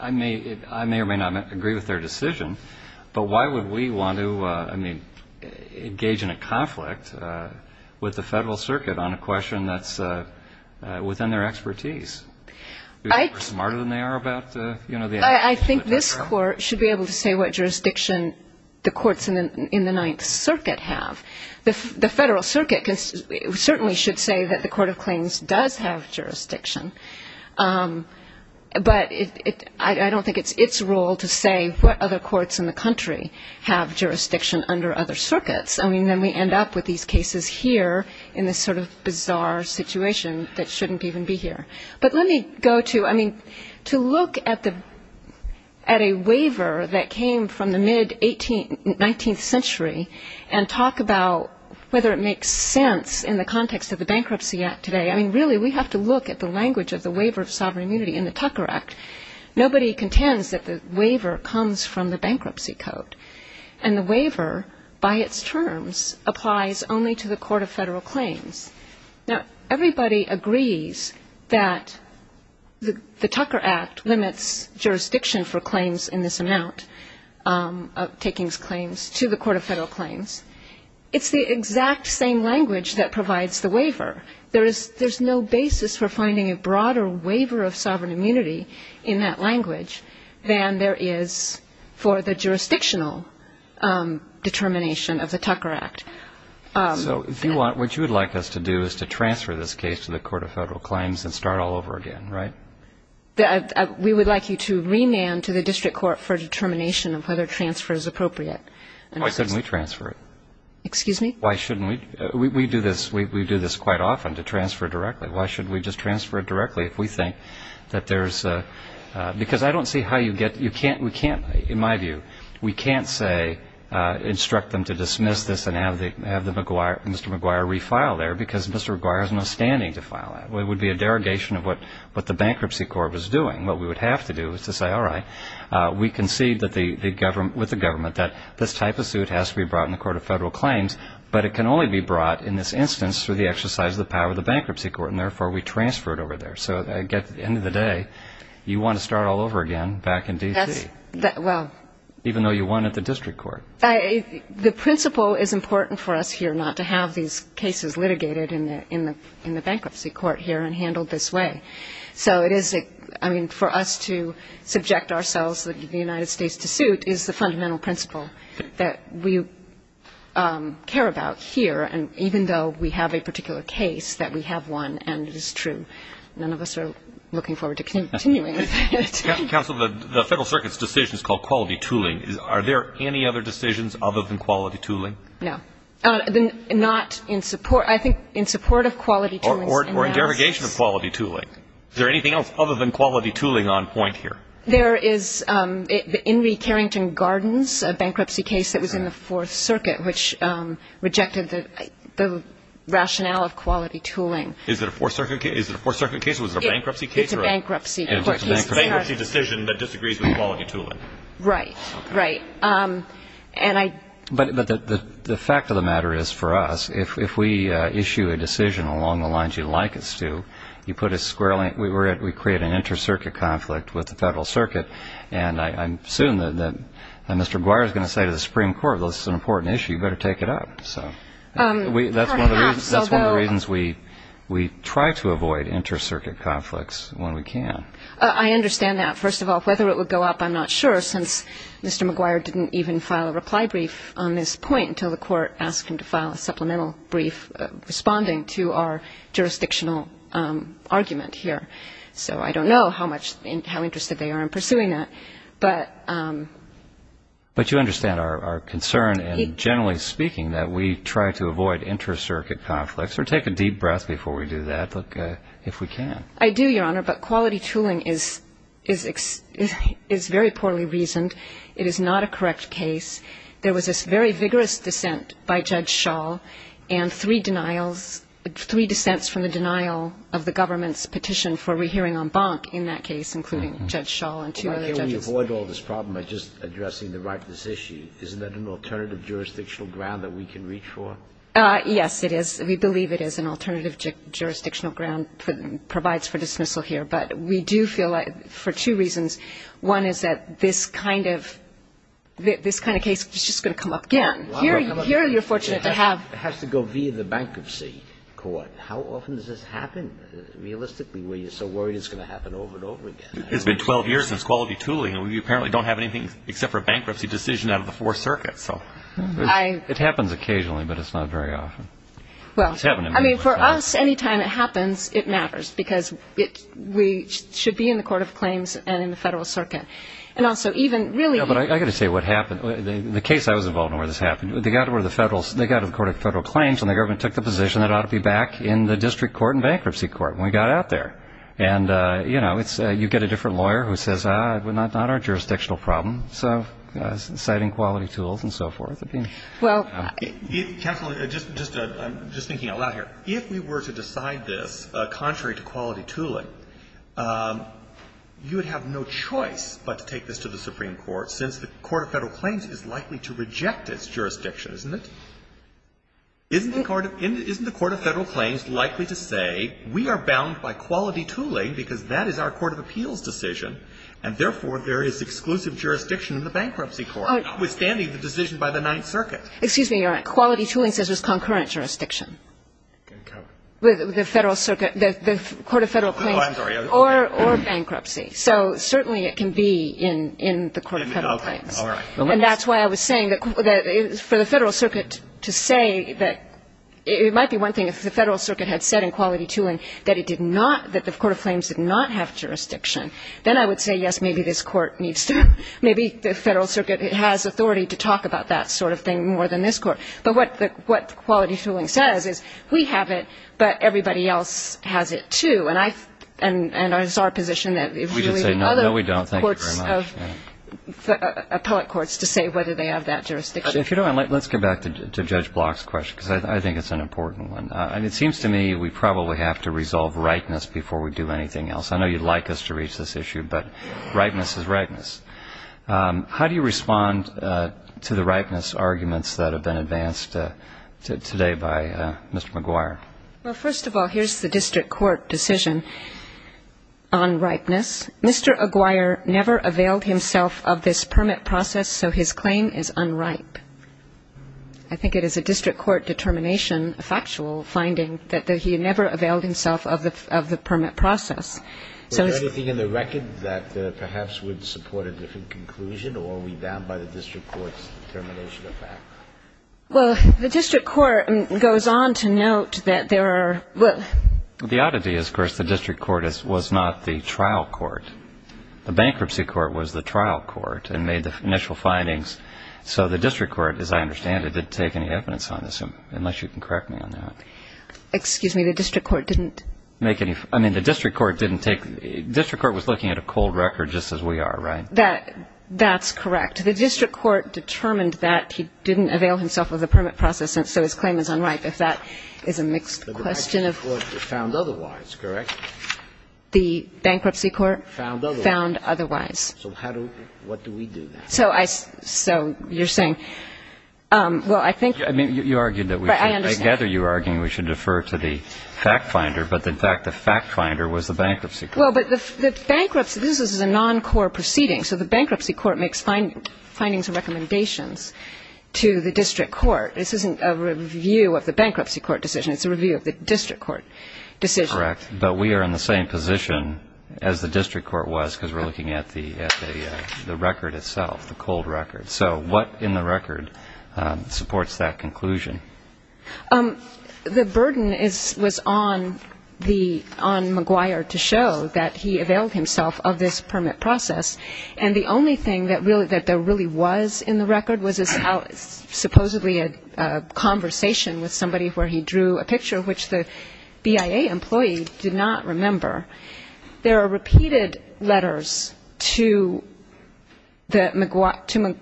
I may or may not agree with their decision, but why would we want to, I mean, engage in a conflict with the federal circuit on a question that's within their expertise? We're smarter than they are about, you know. I think this Court should be able to say what jurisdiction the courts in the Ninth Circuit have. The federal circuit certainly should say that the Court of Claims does have jurisdiction, but I don't think it's its role to say what other courts in the country have jurisdiction under other circuits. I mean, then we end up with these cases here in this sort of bizarre situation that shouldn't even be here. But let me go to, I mean, to look at a waiver that came from the mid-19th century and talk about whether it makes sense in the context of the Bankruptcy Act today. I mean, really, we have to look at the language of the Waiver of Sovereign Immunity in the Tucker Act. Nobody contends that the waiver comes from the Bankruptcy Code, and the waiver by its terms applies only to the Court of Federal Claims. Now, everybody agrees that the Tucker Act limits jurisdiction for claims in this amount, taking claims to the Court of Federal Claims. It's the exact same language that provides the waiver. There is no basis for finding a broader waiver of sovereign immunity in that language than there is for the jurisdictional determination of the Tucker Act. So if you want, what you would like us to do is to transfer this case to the Court of Federal Claims and start all over again, right? We would like you to remand to the district court for determination of whether transfer is appropriate. Why shouldn't we transfer it? Excuse me? Why shouldn't we? We do this quite often, to transfer directly. Why shouldn't we just transfer it directly if we think that there's a ‑‑ because I don't see how you get, you can't, we can't, in my view, we can't say instruct them to dismiss this and have Mr. McGuire refile there because Mr. McGuire has no standing to file that. It would be a derogation of what the Bankruptcy Court was doing. What we would have to do is to say, all right, we concede with the government that this type of suit has to be brought in the Court of Federal Claims, but it can only be brought in this instance through the exercise of the power of the Bankruptcy Court, and therefore we transfer it over there. So at the end of the day, you want to start all over again back in D.C. Even though you won at the district court. The principle is important for us here not to have these cases litigated in the Bankruptcy Court here and handled this way. So it is, I mean, for us to subject ourselves to the United States to suit is the fundamental principle that we care about here, and even though we have a particular case, that we have won, and it is true. None of us are looking forward to continuing with it. Counsel, the Federal Circuit's decision is called quality tooling. Are there any other decisions other than quality tooling? No. Not in support. I think in support of quality tooling. Or in derogation of quality tooling. Is there anything else other than quality tooling on point here? There is the Henry Carrington Gardens bankruptcy case that was in the Fourth Circuit, which rejected the rationale of quality tooling. Is it a Fourth Circuit case? Is it a Fourth Circuit case? Was it a bankruptcy case? It's a bankruptcy court case. It's a bankruptcy decision that disagrees with quality tooling. Right. Right. But the fact of the matter is, for us, if we issue a decision along the lines you'd like us to, you put a square link, we create an inter-circuit conflict with the Federal Circuit, and I'm assuming that Mr. Guire is going to say to the Supreme Court, well, this is an important issue, you better take it up. That's one of the reasons we try to avoid inter-circuit conflicts when we can. I understand that. First of all, whether it would go up, I'm not sure, since Mr. McGuire didn't even file a reply brief on this point until the court asked him to file a supplemental brief responding to our jurisdictional argument here. So I don't know how interested they are in pursuing that. But you understand our concern, and generally speaking, that we try to avoid inter-circuit conflicts, or take a deep breath before we do that if we can. I do, Your Honor, but quality tooling is very poorly reasoned. It is not a correct case. There was this very vigorous dissent by Judge Schall and three denials, three dissents from the denial of the government's petition for rehearing en banc in that case, including Judge Schall and two other judges. Well, by the way, we avoid all this problem by just addressing the ripeness issue. Isn't that an alternative jurisdictional ground that we can reach for? Yes, it is. We believe it is an alternative jurisdictional ground provides for dismissal here. But we do feel like for two reasons. One is that this kind of case is just going to come up again. Here you're fortunate to have. It has to go via the bankruptcy court. How often does this happen realistically where you're so worried it's going to happen over and over again? It's been 12 years since quality tooling, and we apparently don't have anything except for a bankruptcy decision out of the Fourth Circuit, so. It happens occasionally, but it's not very often. I mean, for us, any time it happens, it matters, because we should be in the Court of Claims and in the Federal Circuit. And also, even really. I've got to say what happened. The case I was involved in where this happened, they got to the Court of Federal Claims, and the government took the position that it ought to be back in the district court and bankruptcy court, and we got out there. And, you know, you get a different lawyer who says, ah, not our jurisdictional problem, citing quality tools and so forth. Counsel, I'm just thinking out loud here. If we were to decide this contrary to quality tooling, you would have no choice but to take this to the Supreme Court, since the Court of Federal Claims is likely to reject its jurisdiction, isn't it? Isn't the Court of Federal Claims likely to say, we are bound by quality tooling because that is our court of appeals decision, and therefore there is exclusive jurisdiction in the bankruptcy court, notwithstanding the decision by the Ninth Circuit. Excuse me, Your Honor. Quality tooling says there's concurrent jurisdiction with the Federal Circuit, the Court of Federal Claims. Oh, I'm sorry. Or bankruptcy. So certainly it can be in the Court of Federal Claims. Okay. All right. And that's why I was saying that for the Federal Circuit to say that it might be one thing if the Federal Circuit had said in quality tooling that it did not, that the Court of Claims did not have jurisdiction, then I would say, yes, maybe this court needs to, maybe the Federal Circuit has authority to talk about that sort of thing more than this court. But what quality tooling says is we have it, but everybody else has it, too. And I, and it's our position that it's really the other courts of, No, we don't. Thank you very much. Appellate courts to say whether they have that jurisdiction. If you don't mind, let's get back to Judge Block's question, because I think it's an important one. And it seems to me we probably have to resolve rightness before we do anything else. I know you'd like us to reach this issue, but rightness is rightness. How do you respond to the rightness arguments that have been advanced today by Mr. McGuire? Well, first of all, here's the district court decision on rightness. Mr. McGuire never availed himself of this permit process, so his claim is unripe. I think it is a district court determination, a factual finding, that he never availed himself of the permit process. Was there anything in the record that perhaps would support a different conclusion, or are we down by the district court's determination of that? Well, the district court goes on to note that there are, well, The oddity is, of course, the district court was not the trial court. The bankruptcy court was the trial court and made the initial findings. So the district court, as I understand it, didn't take any evidence on this, unless you can correct me on that. Excuse me, the district court didn't make any, I mean, the district court didn't take, the district court was looking at a cold record just as we are, right? That's correct. The district court determined that he didn't avail himself of the permit process, and so his claim is unripe. If that is a mixed question of, The bankruptcy court found otherwise, correct? The bankruptcy court found otherwise. So how do, what do we do now? So I, so you're saying, well, I think, I mean, you argued that we should, I gather you were arguing we should defer to the fact finder, but in fact the fact finder was the bankruptcy court. Well, but the bankruptcy, this is a non-core proceeding, so the bankruptcy court makes findings and recommendations to the district court. This isn't a review of the bankruptcy court decision, it's a review of the district court decision. Correct. But we are in the same position as the district court was, because we're looking at the record itself, the cold record. So what in the record supports that conclusion? The burden is, was on the, on McGuire to show that he availed himself of this permit process, and the only thing that really, that there really was in the record was a, supposedly a conversation with somebody where he drew a picture, which the BIA employee did not remember. There are repeated letters to the, to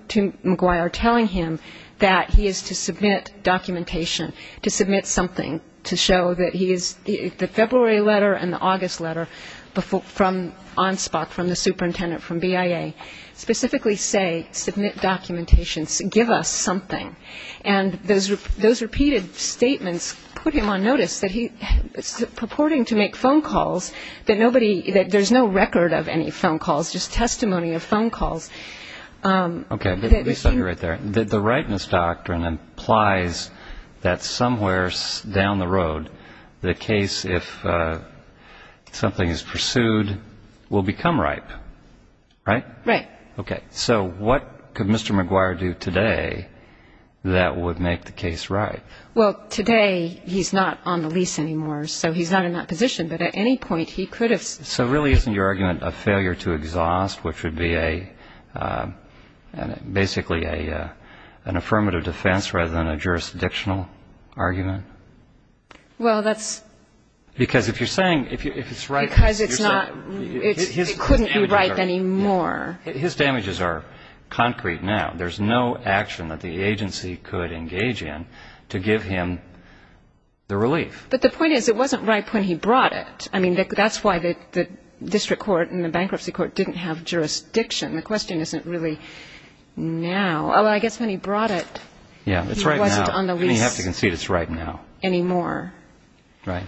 McGuire telling him that he is to submit documentation, to submit something to show that he is, the February letter and the August letter from OnSpot, from the superintendent from BIA, specifically say submit documentation, give us something. And those repeated statements put him on notice that he, purporting to make phone calls that nobody, that there's no record of any phone calls, just testimony of phone calls. Okay. Let me stop you right there. The rightness doctrine implies that somewhere down the road, the case, if something is pursued, will become ripe, right? Right. Okay. So what could Mr. McGuire do today that would make the case right? Well, today he's not on the lease anymore, so he's not in that position. But at any point he could have. So really isn't your argument a failure to exhaust, which would be basically an affirmative defense rather than a jurisdictional argument? Well, that's. Because if you're saying, if it's right. Because it's not, it couldn't be right anymore. His damages are concrete now. There's no action that the agency could engage in to give him the relief. But the point is, it wasn't ripe when he brought it. I mean, that's why the district court and the bankruptcy court didn't have jurisdiction. The question isn't really now. Well, I guess when he brought it, he wasn't on the lease. Yeah, it's right now. You have to concede it's right now. Anymore. Right.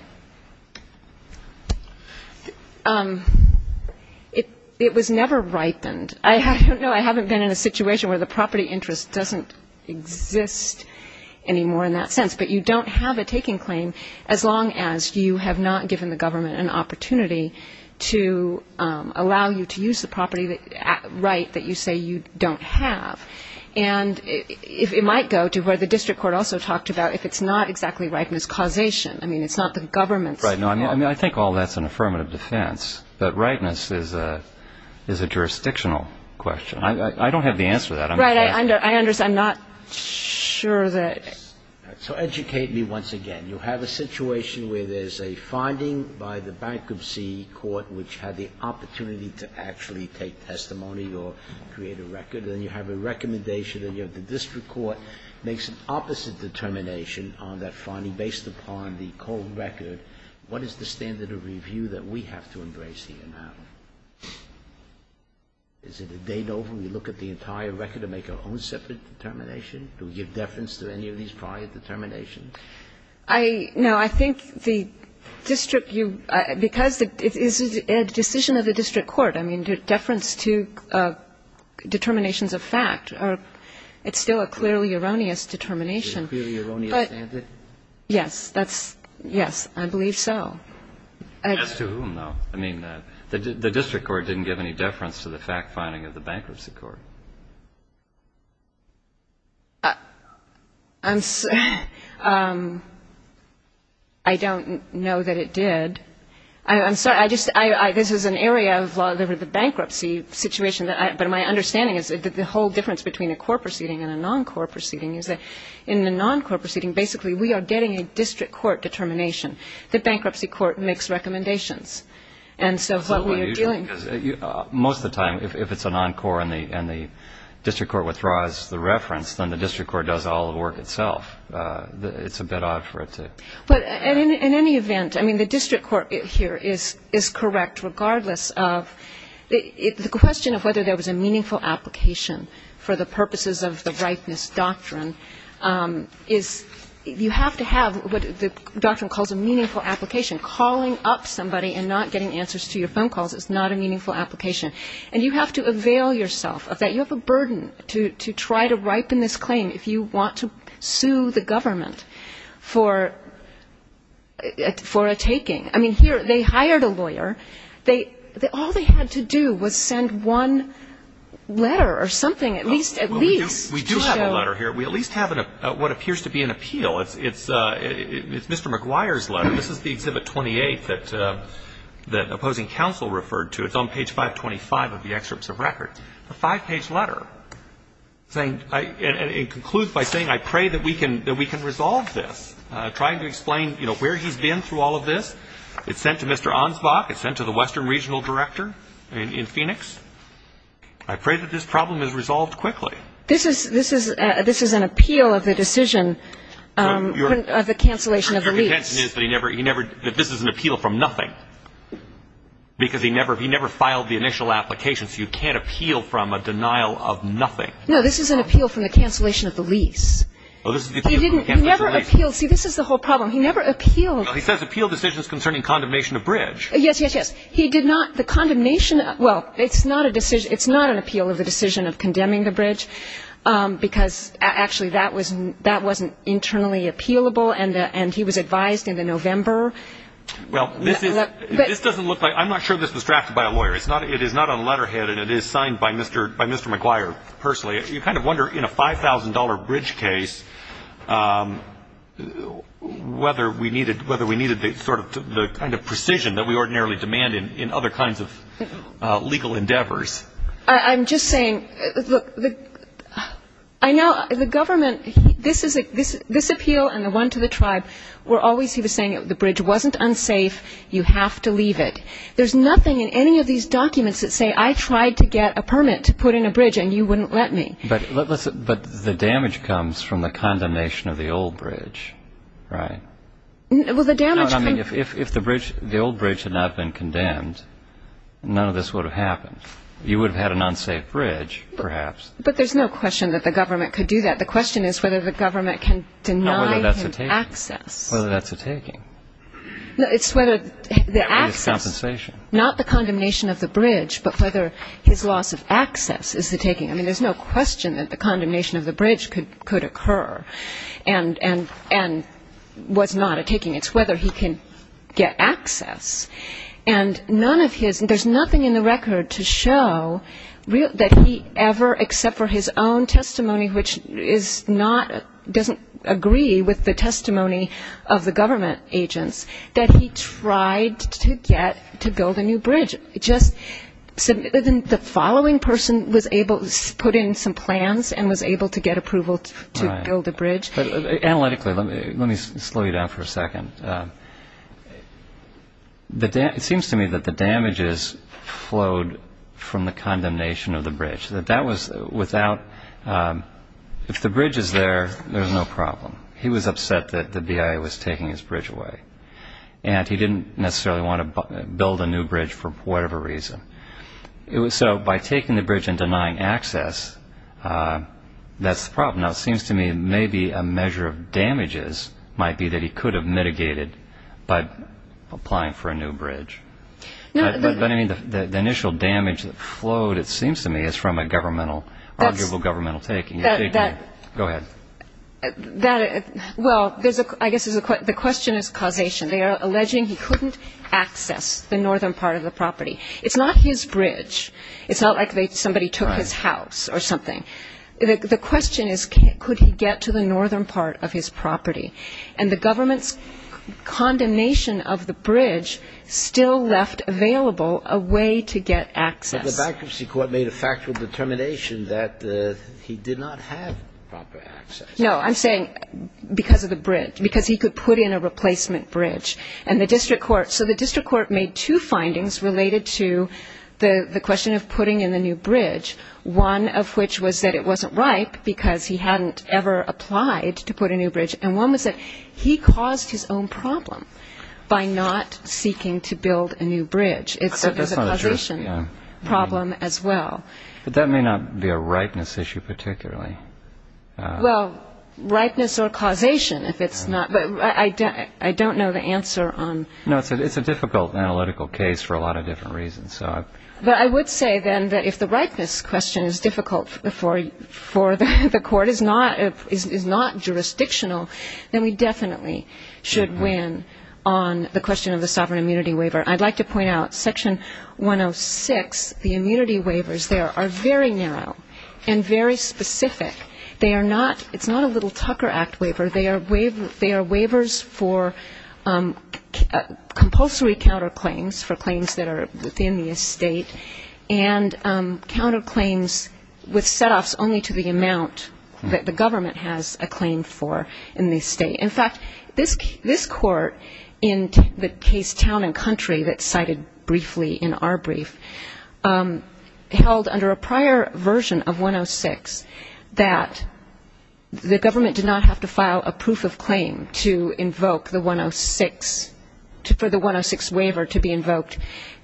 It was never ripened. I don't know, I haven't been in a situation where the property interest doesn't exist anymore in that sense. But you don't have a taking claim as long as you have not given the government an opportunity to allow you to use the property right that you say you don't have. And it might go to where the district court also talked about if it's not exactly ripeness causation. I mean, it's not the government's fault. Right. I mean, I think all that's an affirmative defense. But ripeness is a jurisdictional question. I don't have the answer to that. Right. I understand. I'm not sure that. So educate me once again. You have a situation where there's a finding by the bankruptcy court which had the opportunity to actually take testimony or create a record, and then you have a recommendation and you have the district court make some opposite determination on that finding based upon the cold record. What is the standard of review that we have to embrace here now? Is it a date over? We look at the entire record and make our own separate determination? Do we give deference to any of these prior determinations? No. I think the district, because it is a decision of the district court. I mean, deference to determinations of fact, it's still a clearly erroneous determination. It's clearly erroneous, isn't it? Yes. That's yes. I believe so. As to whom, though? I mean, the district court didn't give any deference to the fact finding of the bankruptcy court. I don't know that it did. I'm sorry. This is an area of the bankruptcy situation, but my understanding is that the whole difference between a core proceeding and a non-core proceeding is that in the non-core proceeding, basically, we are getting a district court determination. The bankruptcy court makes recommendations. And so what we are dealing with is that most of the time, if it's a non-core and the district court, if the district court withdraws the reference, then the district court does all the work itself. It's a bit odd for it to. But in any event, I mean, the district court here is correct, regardless of. The question of whether there was a meaningful application for the purposes of the Rightness Doctrine is you have to have what the doctrine calls a meaningful application. Calling up somebody and not getting answers to your phone calls is not a meaningful application. And you have to avail yourself of that. You have a burden to try to ripen this claim if you want to sue the government for a taking. I mean, here they hired a lawyer. All they had to do was send one letter or something, at least to show. We do have a letter here. We at least have what appears to be an appeal. It's Mr. McGuire's letter. This is the Exhibit 28 that opposing counsel referred to. It's on page 525 of the excerpts of record. A five-page letter saying, and it concludes by saying, I pray that we can resolve this, trying to explain where he's been through all of this. It's sent to Mr. Ansbach. It's sent to the Western Regional Director in Phoenix. I pray that this problem is resolved quickly. This is an appeal of the decision of the cancellation of the lease. The contention is that this is an appeal from nothing, because he never filed the initial application, so you can't appeal from a denial of nothing. No, this is an appeal from the cancellation of the lease. He never appealed. See, this is the whole problem. He never appealed. He says appeal decisions concerning condemnation of bridge. Yes, yes, yes. He did not. Because, actually, that wasn't internally appealable, and he was advised in the November. Well, this doesn't look like ñ I'm not sure this was drafted by a lawyer. It is not on the letterhead, and it is signed by Mr. McGuire personally. You kind of wonder, in a $5,000 bridge case, whether we needed sort of the kind of precision that we ordinarily demand in other kinds of legal endeavors. I'm just saying, look, I know the government, this appeal and the one to the tribe were always, he was saying, the bridge wasn't unsafe, you have to leave it. There's nothing in any of these documents that say I tried to get a permit to put in a bridge, and you wouldn't let me. But the damage comes from the condemnation of the old bridge, right? Well, the damage comes ñ I mean, if the old bridge had not been condemned, none of this would have happened. You would have had an unsafe bridge, perhaps. But there's no question that the government could do that. The question is whether the government can deny him access. Whether that's a taking. No, it's whether the access ñ Or his compensation. Not the condemnation of the bridge, but whether his loss of access is the taking. I mean, there's no question that the condemnation of the bridge could occur and was not a taking. It's whether he can get access. And none of his ñ there's nothing in the record to show that he ever, except for his own testimony, which is not ñ doesn't agree with the testimony of the government agents, that he tried to get to build a new bridge. Just the following person was able to put in some plans and was able to get approval to build a bridge. But analytically, let me slow you down for a second. It seems to me that the damages flowed from the condemnation of the bridge. That that was without ñ if the bridge is there, there's no problem. He was upset that the BIA was taking his bridge away. And he didn't necessarily want to build a new bridge for whatever reason. So by taking the bridge and denying access, that's the problem. Now, it seems to me maybe a measure of damages might be that he could have mitigated by applying for a new bridge. But, I mean, the initial damage that flowed, it seems to me, is from a governmental ñ arguable governmental taking. Go ahead. Well, I guess the question is causation. They are alleging he couldn't access the northern part of the property. It's not his bridge. It's not like somebody took his house or something. The question is could he get to the northern part of his property. And the government's condemnation of the bridge still left available a way to get access. But the bankruptcy court made a factual determination that he did not have proper access. No, I'm saying because of the bridge, because he could put in a replacement bridge. And the district court ñ so the district court made two findings related to the question of putting in the new bridge, one of which was that it wasn't ripe because he hadn't ever applied to put in a new bridge. And one was that he caused his own problem by not seeking to build a new bridge. So there's a causation problem as well. But that may not be a ripeness issue particularly. Well, ripeness or causation if it's not ñ I don't know the answer on ñ No, it's a difficult analytical case for a lot of different reasons. But I would say then that if the ripeness question is difficult for the court, is not jurisdictional, then we definitely should win on the question of the sovereign immunity waiver. I'd like to point out Section 106, the immunity waivers there are very narrow and very specific. They are not ñ it's not a little Tucker Act waiver. They are waivers for compulsory counterclaims, for claims that are within the estate, and counterclaims with setoffs only to the amount that the government has a claim for in the estate. In fact, this court in the case Town and Country that's cited briefly in our brief, held under a prior version of 106 that the government did not have to file a proof of claim to invoke the 106, for the 106 waiver to be invoked.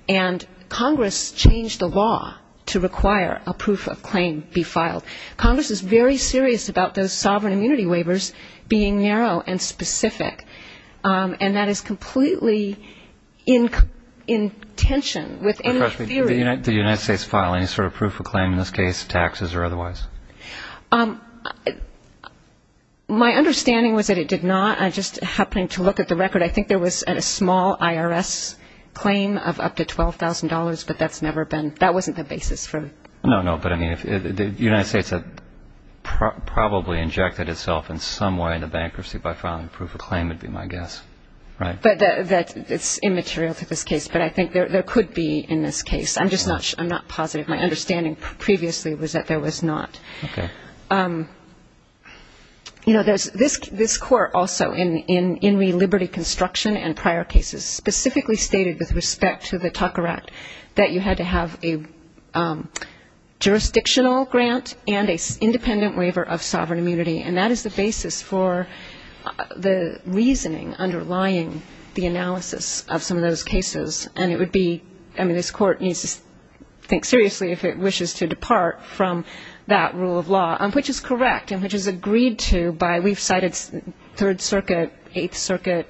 And Congress changed the law to require a proof of claim be filed. Congress is very serious about those sovereign immunity waivers being narrow and specific. And that is completely in tension with any theory. Do the United States file any sort of proof of claim in this case, taxes or otherwise? My understanding was that it did not. I'm just happening to look at the record. I think there was a small IRS claim of up to $12,000, but that's never been ñ that wasn't the basis for it. No, no. But, I mean, the United States had probably injected itself in some way in the bankruptcy by filing a proof of claim, would be my guess, right? That's immaterial to this case, but I think there could be in this case. I'm just not positive. My understanding previously was that there was not. Okay. You know, this court also, in the Liberty Construction and prior cases, specifically stated with respect to the Tucker Act, that you had to have a jurisdictional grant and an independent waiver of sovereign immunity. And that is the basis for the reasoning underlying the analysis of some of those cases. And it would be ñ I mean, this court needs to think seriously if it wishes to depart from that rule of law, which is correct and which is agreed to by ñ we've cited Third Circuit, Eighth Circuit.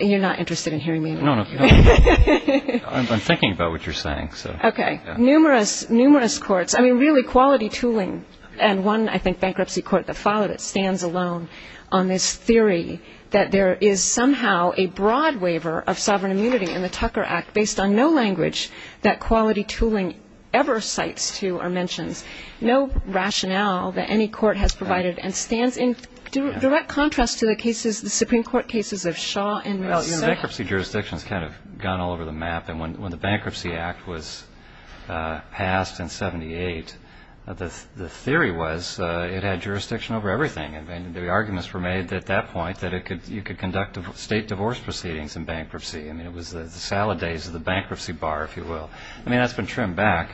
You're not interested in hearing me. No, no. I'm thinking about what you're saying. Okay. Numerous, numerous courts ñ I mean, really, quality tooling. And one, I think, bankruptcy court that followed it stands alone on this theory that there is somehow a broad waiver of sovereign immunity in the Tucker Act, based on no language that quality tooling ever cites to or mentions. No rationale that any court has provided and stands in direct contrast to the cases, the Supreme Court cases of Shaw and Rousset. Well, you know, bankruptcy jurisdiction has kind of gone all over the map. And when the Bankruptcy Act was passed in í78, the theory was it had jurisdiction over everything. And the arguments were made at that point that you could conduct state divorce proceedings in bankruptcy. I mean, it was the salad days of the bankruptcy bar, if you will. I mean, that's been trimmed back.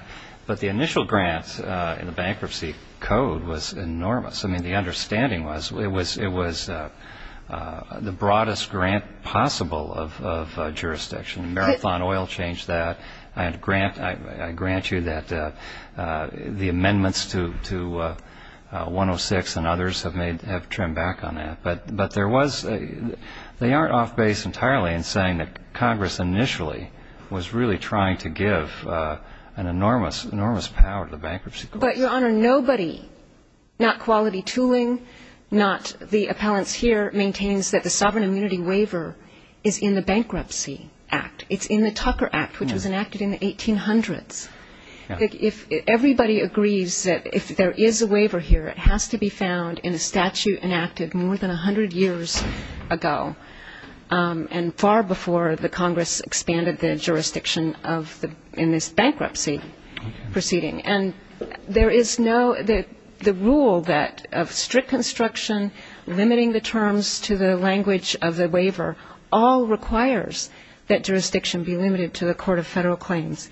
But the initial grant in the bankruptcy code was enormous. I mean, the understanding was it was the broadest grant possible of jurisdiction. Marathon Oil changed that. I grant you that the amendments to 106 and others have trimmed back on that. But they aren't off base entirely in saying that Congress initially was really trying to give an enormous, enormous power to the bankruptcy courts. But, Your Honor, nobody, not quality tooling, not the appellants here, maintains that the sovereign immunity waiver is in the Bankruptcy Act. It's in the Tucker Act, which was enacted in the 1800s. If everybody agrees that if there is a waiver here, it has to be found in a statute enacted more than 100 years ago, and far before the Congress expanded the jurisdiction in this bankruptcy proceeding. And there is no ó the rule that of strict construction, limiting the terms to the language of the waiver, all requires that jurisdiction be limited to the court of federal claims.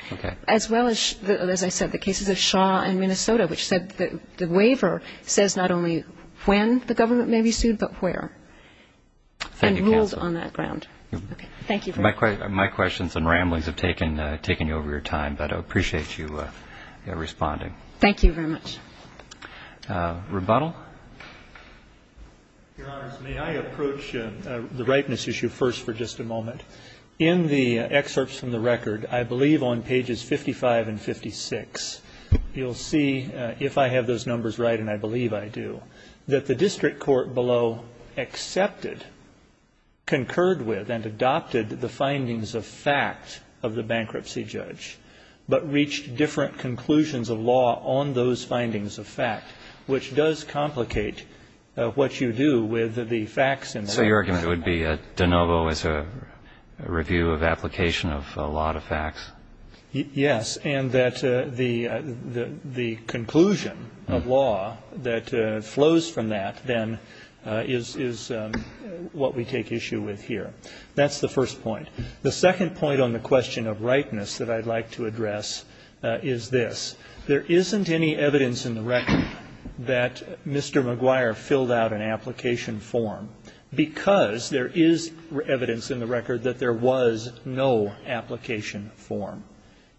As well as, as I said, the cases of Shaw and Minnesota, which said the waiver says not only when the government may be sued, but where. And rules on that ground. Thank you. My questions and ramblings have taken you over your time, but I appreciate you responding. Thank you very much. Rebuttal. Your Honors, may I approach the ripeness issue first for just a moment? In the excerpts from the record, I believe on pages 55 and 56, you'll see, if I have those numbers right, and I believe I do, that the district court below accepted, concurred with, and adopted the findings of fact of the bankruptcy judge, but reached different conclusions of law on those findings of fact, which does complicate what you do with the facts in the record. So your argument would be de novo is a review of application of a lot of facts? Yes. And that the conclusion of law that flows from that, then, is what we take issue with here. That's the first point. The second point on the question of rightness that I'd like to address is this. There isn't any evidence in the record that Mr. McGuire filled out an application form, because there is evidence in the record that there was no application form.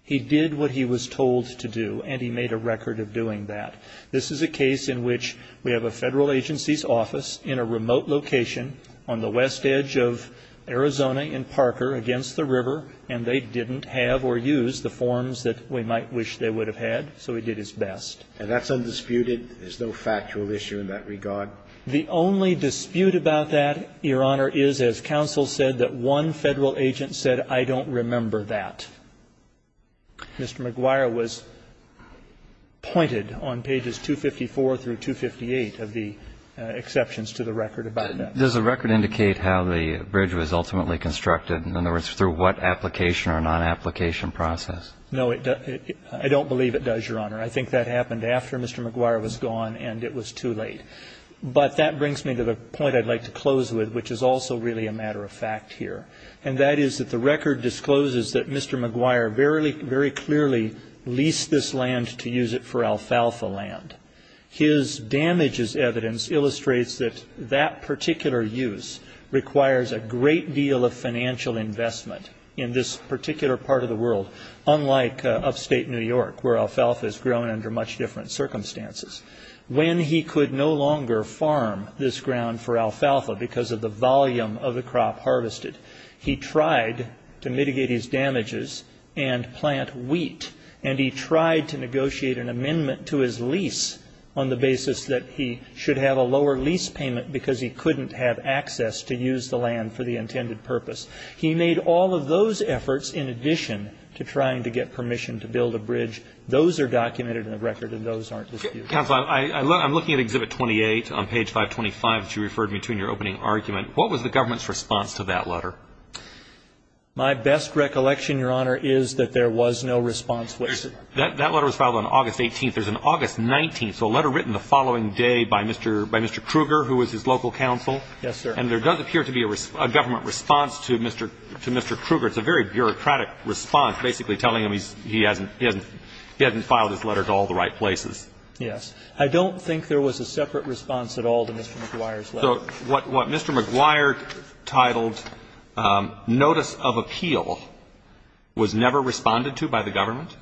He did what he was told to do, and he made a record of doing that. This is a case in which we have a Federal agency's office in a remote location on the west edge of Arizona in Parker against the river, and they didn't have or use the forms that we might wish they would have had, so he did his best. And that's undisputed? There's no factual issue in that regard? The only dispute about that, Your Honor, is, as counsel said, that one Federal agent said, I don't remember that. Mr. McGuire was pointed on pages 254 through 258 of the exceptions to the record about that. Does the record indicate how the bridge was ultimately constructed? In other words, through what application or non-application process? No, it doesn't. I don't believe it does, Your Honor. I think that happened after Mr. McGuire was gone and it was too late. But that brings me to the point I'd like to close with, which is also really a matter of fact here, and that is that the record discloses that Mr. McGuire very clearly leased this land to use it for alfalfa land. His damages evidence illustrates that that particular use requires a great deal of financial investment in this particular part of the world, unlike upstate New York, where alfalfa is grown under much different circumstances. When he could no longer farm this ground for alfalfa because of the volume of the crop harvested, he tried to mitigate his damages and plant wheat, and he tried to negotiate an amendment to his lease on the basis that he should have a lower lease payment because he couldn't have access to use the land for the intended purpose. He made all of those efforts in addition to trying to get permission to build a bridge. Those are documented in the record, and those aren't disputed. Mr. Counsel, I'm looking at Exhibit 28 on page 525 that you referred me to in your opening argument. What was the government's response to that letter? My best recollection, Your Honor, is that there was no response. That letter was filed on August 18th. There's an August 19th, so a letter written the following day by Mr. Kruger, who was his local counsel. Yes, sir. And there does appear to be a government response to Mr. Kruger. It's a very bureaucratic response, basically telling him he hasn't filed his letter to all the right places. Yes. I don't think there was a separate response at all to Mr. McGuire's letter. So what Mr. McGuire titled Notice of Appeal was never responded to by the government?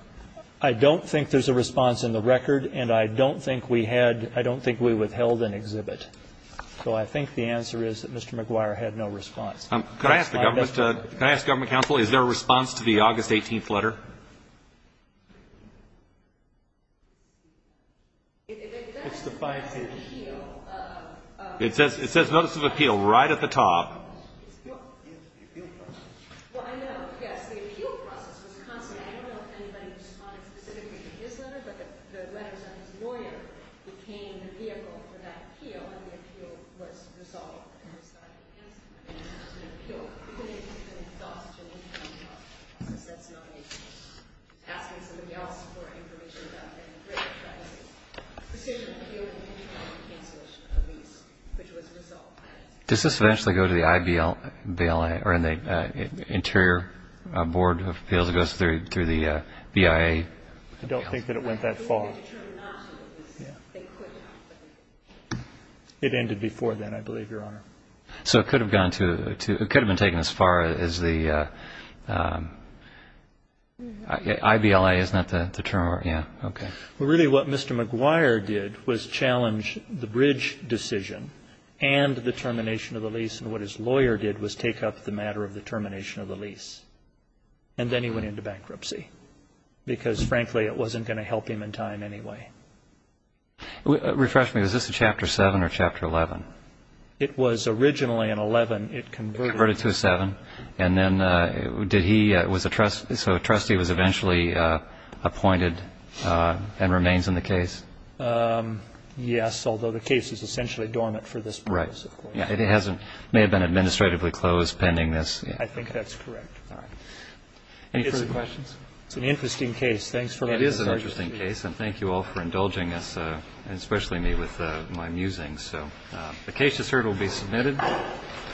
I don't think there's a response in the record, and I don't think we had, I don't think we withheld an exhibit. So I think the answer is that Mr. McGuire had no response. Could I ask the government counsel, is there a response to the August 18th letter? It says Notice of Appeal right at the top. Appeal process. Well, I know, yes, the appeal process was constant. I don't know if anybody responded specifically to his letter, but the letters on his lawyer became the vehicle for that appeal, and the appeal was resolved. It was not canceled. It was an appeal. We couldn't even get any thoughts of an interim process. That's not an appeal. Asking somebody else for information about the immigration crisis. Precision appeal and interim cancellation of the lease, which was resolved. Does this eventually go to the I.B.L.A., or in the Interior Board of Appeals, it goes through the BIA? I don't think that it went that far. It ended before then, I believe, Your Honor. So it could have gone to, it could have been taken as far as the, I.B.L.A. is not the term, yeah, okay. Well, really what Mr. McGuire did was challenge the bridge decision and the termination of the lease, and what his lawyer did was take up the matter of the termination of the lease. And then he went into bankruptcy because, frankly, it wasn't going to help him in time anyway. Refresh me. Was this a Chapter 7 or Chapter 11? It was originally an 11. It converted to a 7. And then did he, was a trustee, so a trustee was eventually appointed and remains in the case? Yes, although the case is essentially dormant for this purpose, of course. It may have been administratively closed pending this. I think that's correct. All right. Any further questions? It's an interesting case. Thanks for letting us. It is an interesting case. And thank you all for indulging us, and especially me, with my musings. So the case just heard will be submitted.